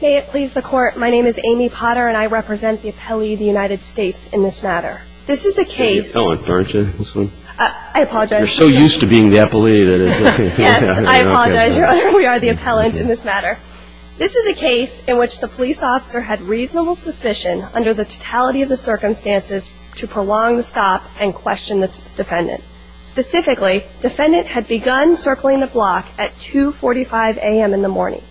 May it please the court, my name is Amy Potter and I represent the appellee of the United States in this matter. This is a case in which the police officer had reasonable suspicion under the totality of the circumstances to prolong the stop and question the defendant. Specifically, defendant had begun circling the block at 2.45 a.m. in the morning.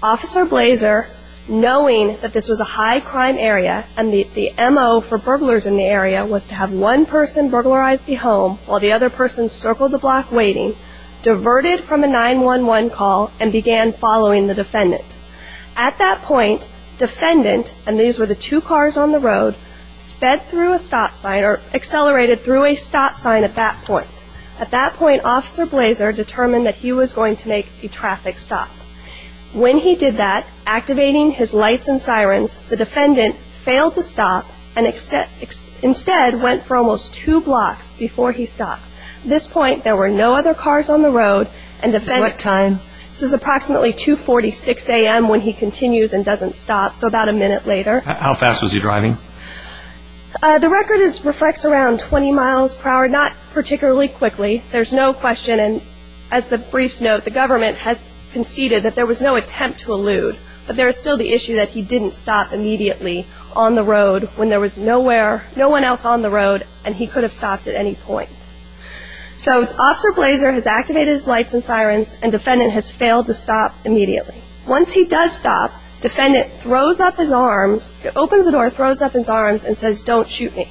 Officer Blazer, knowing that this was a high crime area and the M.O. for burglars in the area was to have one person burglarize the home while the other person circled the block waiting, diverted from a 911 call and began following the defendant. At that point, defendant, and these were the two cars on the road, sped through a stop sign or accelerated through a stop sign at that point. At that point, officer Blazer determined that he was going to make a traffic stop. When he did that, activating his lights and sirens, the defendant failed to stop and instead went for almost two blocks before he stopped. At this point, there were no other cars on the road and the defendant, this is approximately 2.46 a.m. when he continues and doesn't stop, so about a minute later. How fast was he driving? The record reflects around 20 miles per hour, not particularly quickly. There's no question and as the briefs note, the government has conceded that there was no attempt to elude, but there is still the issue that he didn't stop immediately on the road when there was nowhere, no one else on the road and he could have stopped at any point. So, officer Blazer has activated his lights and sirens and defendant has failed to stop immediately. Once he does stop, defendant throws up his arms, opens the door, throws up his arms and says, don't shoot me.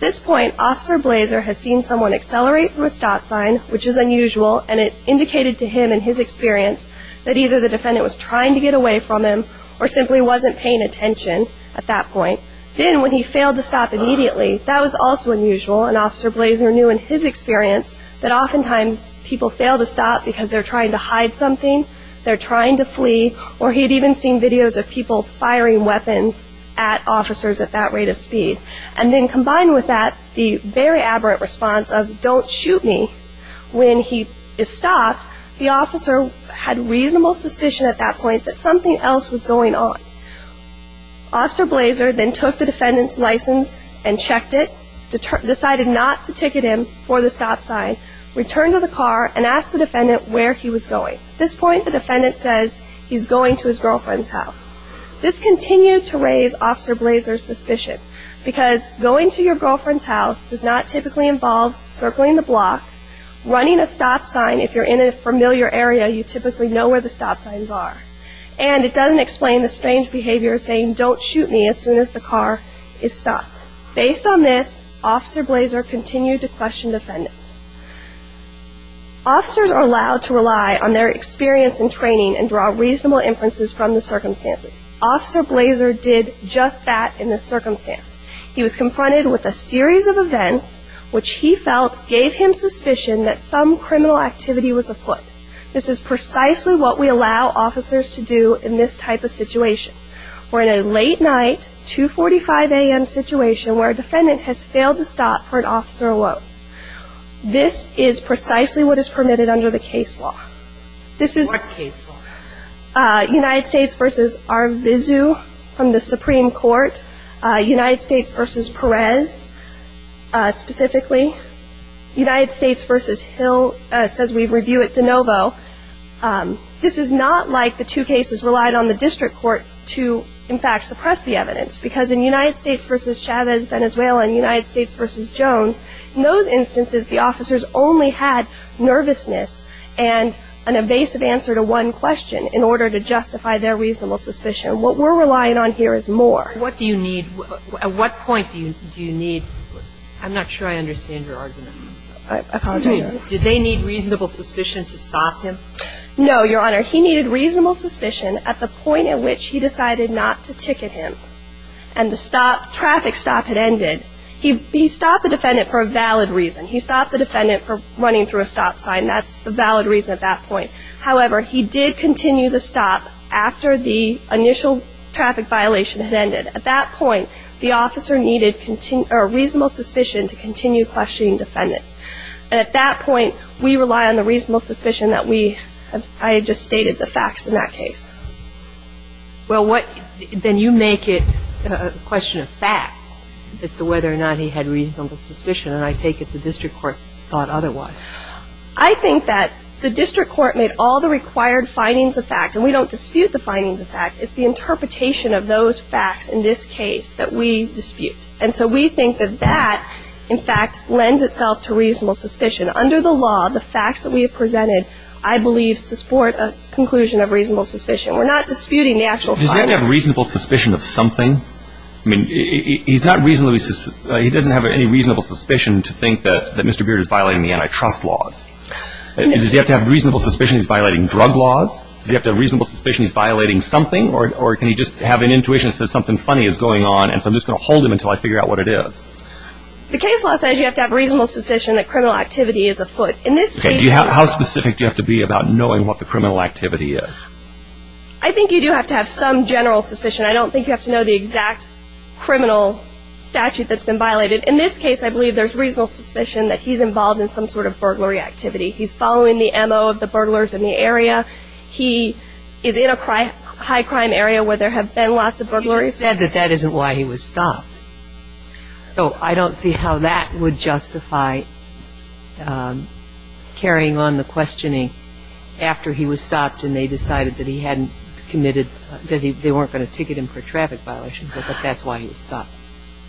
This point, officer Blazer has seen someone accelerate through a stop sign, which is unusual and it indicated to him in his experience that either the defendant was trying to get away from him or simply wasn't paying attention at that point. Then when he failed to stop immediately, that was also unusual and officer Blazer knew in his experience that oftentimes people fail to stop because they're trying to hide something, they're even seeing videos of people firing weapons at officers at that rate of speed. And then combined with that, the very aberrant response of don't shoot me, when he is stopped, the officer had reasonable suspicion at that point that something else was going on. Officer Blazer then took the defendant's license and checked it, decided not to ticket him for the stop sign, returned to the car and asked the defendant where he was going. At this point, the defendant says he's going to his girlfriend's house. This continued to raise officer Blazer's suspicion because going to your girlfriend's house does not typically involve circling the block, running a stop sign if you're in a familiar area, you typically know where the stop signs are. And it doesn't explain the strange behavior saying don't shoot me as soon as the car is stopped. Based on this, officer Blazer continued to question the defendant. Officers are allowed to rely on their experience and training and draw reasonable inferences from the circumstances. Officer Blazer did just that in this circumstance. He was confronted with a series of events which he felt gave him suspicion that some criminal activity was afoot. This is precisely what we allow officers to do in this type of situation. We're in a late night, 2.45 a.m. situation where a defendant has failed to stop for an officer alone. This is precisely what is permitted under the case law. This is United States v. Arvizu from the Supreme Court, United States v. Perez specifically, United States v. Hill says we review it de novo. This is not like the two cases relied on the district court to in fact suppress the evidence because in United States v. Chavez, Venezuela, and United States v. Jones, in those instances the officers only had nervousness and an evasive answer to one question in order to justify their reasonable suspicion. What we're relying on here is more. What do you need, at what point do you need, I'm not sure I understand your argument. I apologize. Did they need reasonable suspicion to stop him? No, Your Honor. He needed reasonable suspicion at the point at which he decided not to ticket him. And the stop, traffic stop had ended. He stopped the defendant for a valid reason. He stopped the defendant for running through a stop sign. That's the valid reason at that point. However, he did continue the stop after the initial traffic violation had ended. At that point, the officer needed a reasonable suspicion to continue questioning the defendant. And at that point, we rely on the reasonable suspicion that we, I just stated the facts in that case. Well, what, then you make it a question of fact as to whether or not he had reasonable suspicion. And I take it the district court thought otherwise. I think that the district court made all the required findings of fact. And we don't dispute the findings of fact. It's the interpretation of those facts in this case that we dispute. And so we think that that, in fact, lends itself to reasonable suspicion. Under the jurisdiction, we're not disputing the actual findings. Does he have to have reasonable suspicion of something? I mean, he doesn't have any reasonable suspicion to think that Mr. Beard is violating the antitrust laws. Does he have to have reasonable suspicion he's violating drug laws? Does he have to have reasonable suspicion he's violating something? Or can he just have an intuition that says something funny is going on, and so I'm just going to hold him until I figure out what it is? The case law says you have to have reasonable suspicion that criminal activity is afoot. In this case... How specific do you have to be about knowing what the criminal activity is? I think you do have to have some general suspicion. I don't think you have to know the exact criminal statute that's been violated. In this case, I believe there's reasonable suspicion that he's involved in some sort of burglary activity. He's following the M.O. of the burglars in the area. He is in a high-crime area where there have been lots of burglaries. You said that that isn't why he was stopped. So I don't see how that would justify carrying on the questioning after he was stopped and they decided that he hadn't committed, that they weren't going to ticket him for traffic violations, that that's why he was stopped.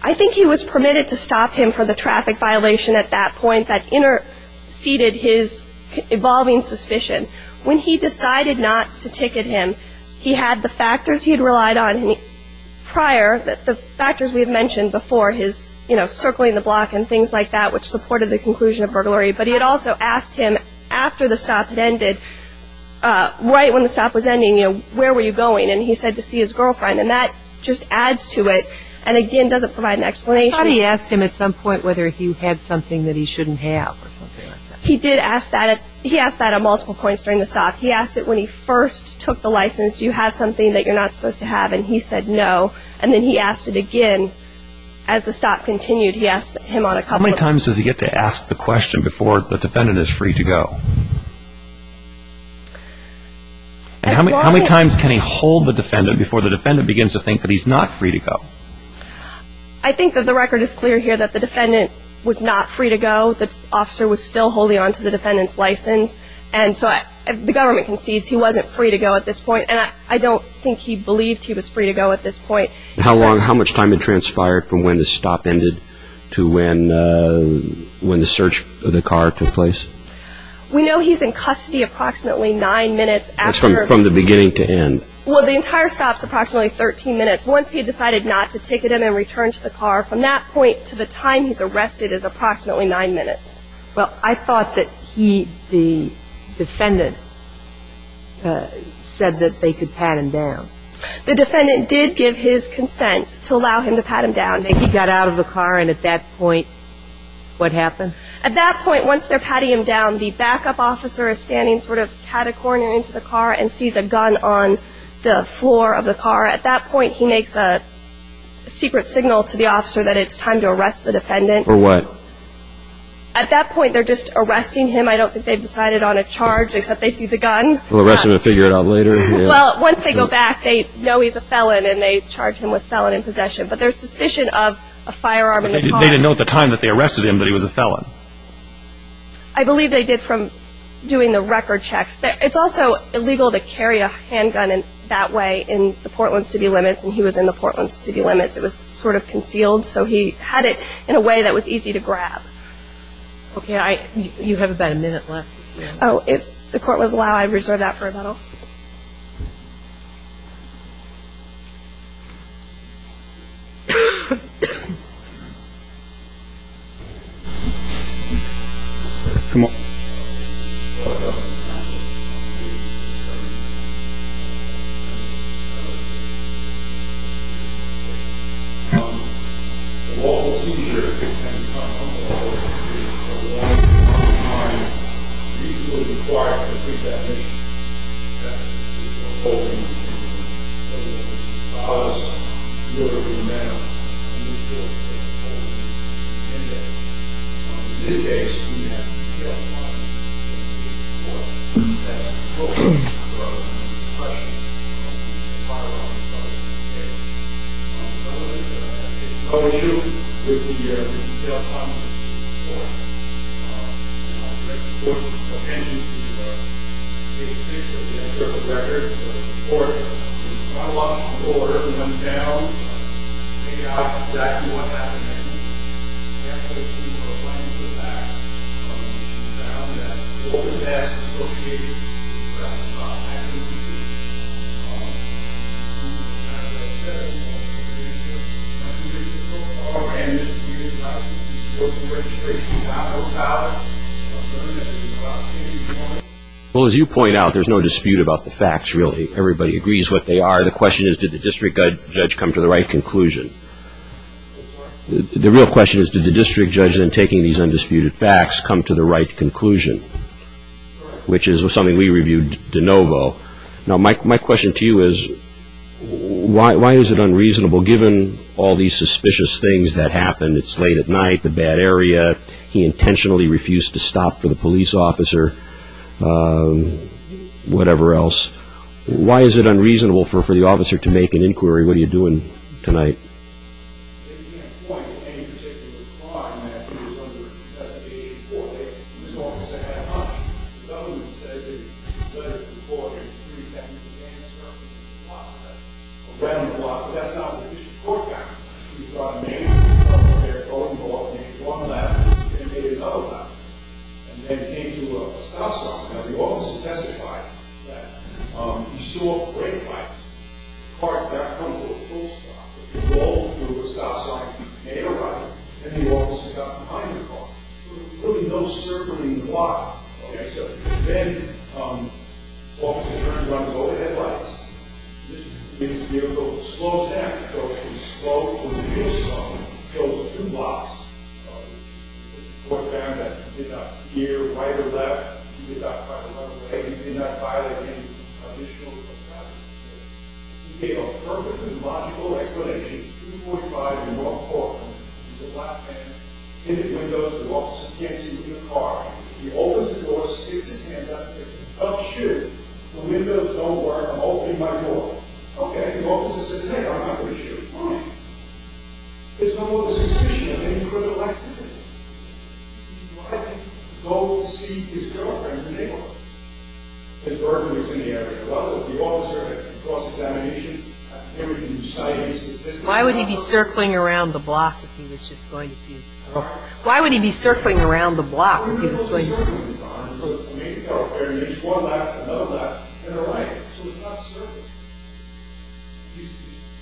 I think he was permitted to stop him for the traffic violation at that point that interceded his evolving suspicion. When he decided not to ticket him, he had the factors he had relied on prior, the factors we had mentioned before, his circling the block and things like that which supported the conclusion of burglary. But he had also asked him after the stop had ended, right when the stop was ending, where were you going? And he said to see his girlfriend. And that just adds to it and, again, doesn't provide an explanation. How did he ask him at some point whether he had something that he shouldn't have or something like that? He did ask that. He asked that at multiple points during the stop. He asked it when he first took the license, do you have something that you're not supposed to have? And he said no. And then he asked it again. As the stop continued, he asked him on a couple of How many times does he get to ask the question before the defendant is free to go? As long as And how many times can he hold the defendant before the defendant begins to think that he's not free to go? I think that the record is clear here that the defendant was not free to go. The officer was still holding on to the defendant's license. And so the government concedes he wasn't free to go at this point. And I don't think he believed he was free to go at this point. How long, how much time had transpired from when the stop ended to when the search of the car took place? We know he's in custody approximately nine minutes after That's from the beginning to end. Well, the entire stop's approximately 13 minutes. Once he decided not to ticket him and return to the car, from that point to the time he's arrested is approximately nine minutes. Well, I thought that he, the defendant, said that they could pat him down. The defendant did give his consent to allow him to pat him down. And he got out of the car, and at that point, what happened? At that point, once they're patting him down, the backup officer is standing sort of cat a corner into the car and sees a gun on the floor of the car. At that point, he makes a secret signal to the officer that it's time to arrest the defendant. For what? At that point, they're just arresting him. I don't think they've decided on a charge, except they see the gun. Well, arrest him and figure it out later? Well, once they go back, they know he's a felon, and they charge him with felon in possession. But there's suspicion of a firearm in the car. But they didn't know at the time that they arrested him that he was a felon? I believe they did from doing the record checks. It's also illegal to carry a handgun that way in the Portland city limits, and he was in the Portland city limits. It was sort of a grab. Okay, you have about a minute left. Oh, if the court would allow, I'd reserve that for a minute. Well, as you point out, there's no dispute about the facts, really. Everybody agrees what they are. The question is, did the district judge come to the right conclusion? The real question is, did the district judge, in taking these undisputed facts, come to the right conclusion, which is something we reviewed de novo. Now, my question to you is, why is it unreasonable, given all these suspicious things that happened? It's late at night, the bad area, he intentionally refused to stop for the police officer, whatever else. Why is it unreasonable for the officer to make an inquiry? What are you doing tonight? They can't point to any particular crime that he was under investigation for. He was almost a head hunter. The government says that he's been reported as pretending to dance around the block, but that's not what the district court found. We've got a man up there throwing ball, made one lap, then made another lap, and then came to a stop sign. Now, we've also testified that he stole brake lights, parked back home to a police car, rolled through a stop sign, made a right, and the officer got behind the car. So there's really no circling the block, okay? So then the officer turns around and goes ahead and lights. The officer gives the vehicle a slow-to-act approach. He's slow to reach someone and kills two blocks. The court found that he did that here, right or left. He did that right or left, okay? He did that by the hand. He made a perfectly logical explanation. It's 3.5 and one-fourth. He's a black man in the windows. The officer can't see him in the car. He opens the door, sticks his hand up, says, oh shoot, the windows don't work. I'm opening my door. Okay, the officer says, okay, I'm not going to shoot. Fine. There's no more suspicion of any criminal activity. Why would he go see his girlfriend in the neighborhood? His birthday was in the area. Well, the officer had a cross-examination. They were doing science statistics. Why would he be circling around the block if he was just going to see his girlfriend? Why would he be circling around the block if he was going to see his girlfriend? There's one left, another left, and a right. So he's not circling. He's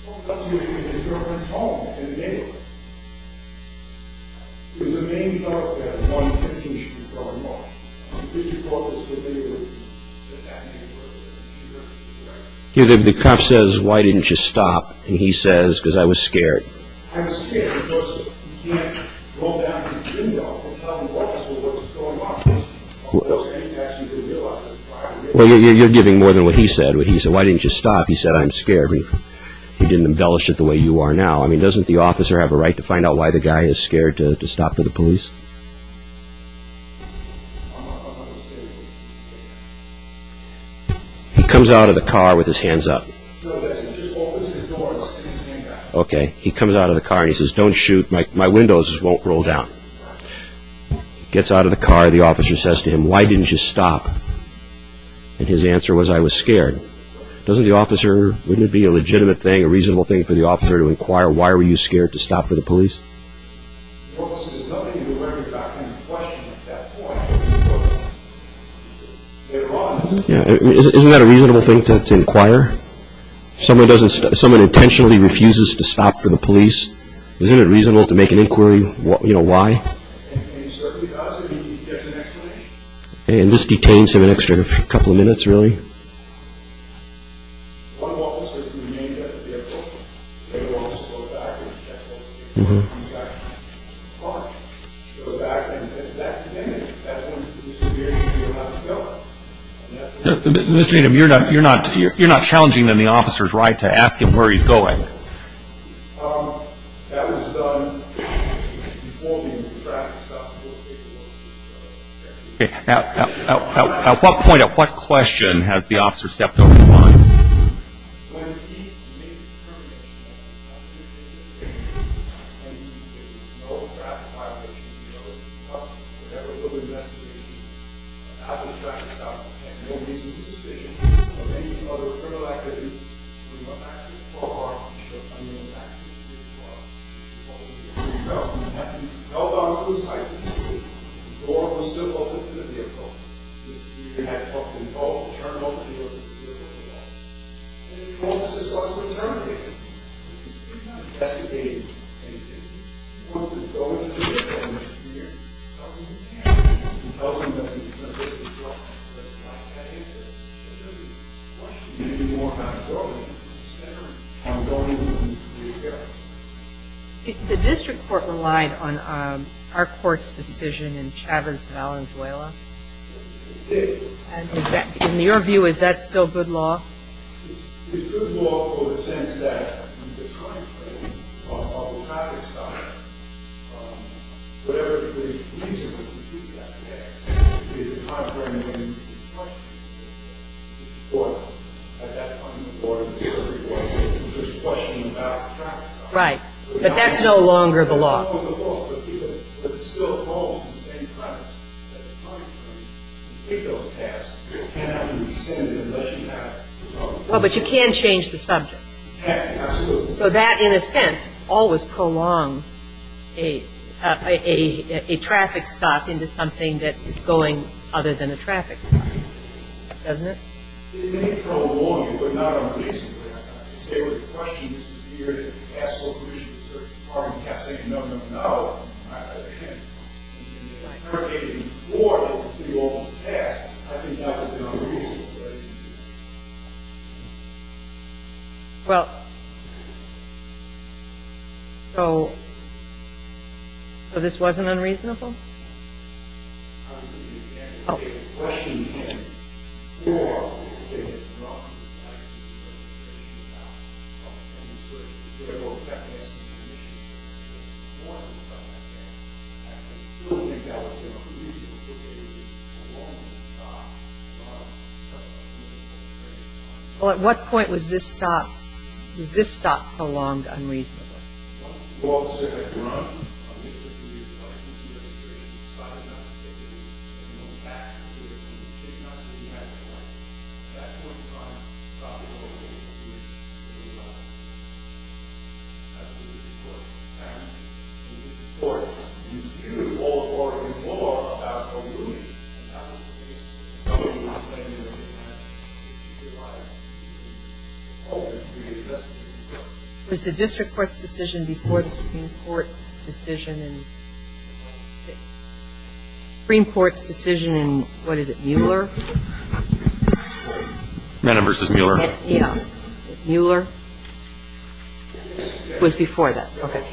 circling around his girlfriend's home in the neighborhood. The cop says, why didn't you stop? And he says, because I was scared. Well, you're giving more than what he said. He said, why didn't you stop? He said, I'm scared. He didn't embellish it the way you are now. I mean, doesn't the officer have a right to find out why the guy is scared to stop for the police? He comes out of the car with his hands up. Okay, he comes out of the car and he says, don't shoot, my windows won't roll down. He gets out of the car. The officer says to him, why didn't you stop? And his answer was, I was scared. Doesn't the officer, wouldn't it be a legitimate thing, a reasonable thing for the officer to inquire, why were you scared to stop for the police? Isn't that a reasonable thing to inquire? Someone intentionally refuses to stop for the police. Isn't it reasonable to make an inquiry, you know, why? And this detains him an extra couple of minutes, really. Mr. Needham, you're not challenging the officer's right to ask him where he's going. That was done before the traffic stop. At what point, at what question has the officer stepped over the line? So you tell us, you have to know about who's high security. The door was still open to the vehicle. Mr. Needham had full control. Turned over the door to the vehicle and left. And he told us this wasn't interrogated. He's not investigating anything. He wants to go and sit down with Mr. Needham. Tells him he can't. He tells him that he's going to risk his life. But it's not that easy. It's just a question of maybe more control. The district court relied on our court's decision in Chavez, Valenzuela. In your view, is that still good law? It's good law for the sense that the time frame of the traffic stop, whatever the police are going to do to that case, is the time frame when you question it. At that point, the board of the district court is going to question about the traffic stop. Right, but that's no longer the law. That's no longer the law. But it still holds the same premise that the time frame to take those tasks cannot be rescinded unless you have the problem. Well, but you can change the subject. You can, absolutely. So that, in a sense, always prolongs a traffic stop into something that is going other than a traffic stop, doesn't it? It may prolong it, but not unreasonably. There were questions here that asked, well, who should the district court have to say no, no, no? I can't. If you interrogate them before they can do all the tasks, I think that would be unreasonable. Well, so this wasn't unreasonable? Oh. Well, at what point was this stopped? Was this stop prolonged unreasonably? Well,... It was the district court's decision before the supreme court's decision in... supreme court's decision in, what is it, Mueller? No, no, versus Mueller. Yeah. Mueller? It was before that. Okay...........................................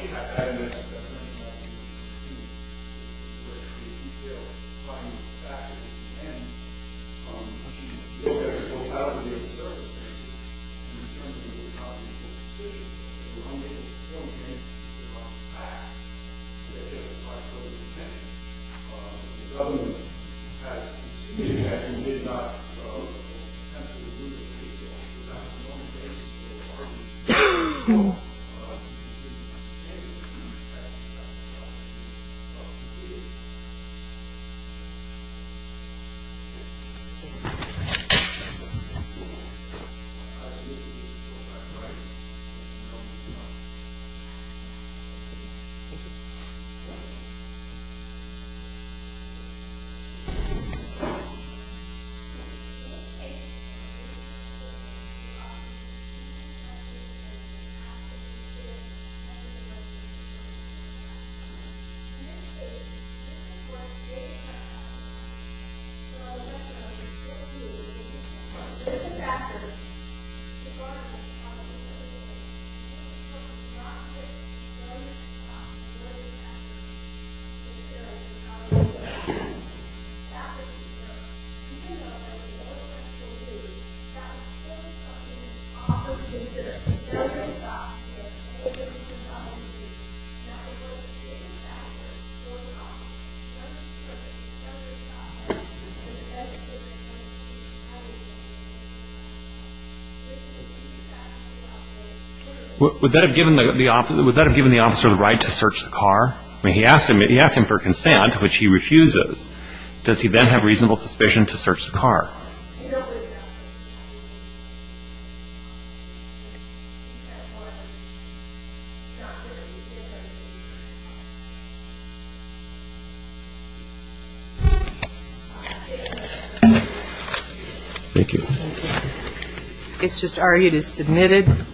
Would that have given the officer the right to search the car? I mean, he asked him for consent, which he refuses. Does he then have reasonable suspicion to search the car?......... Thank you. It's just argued as submitted.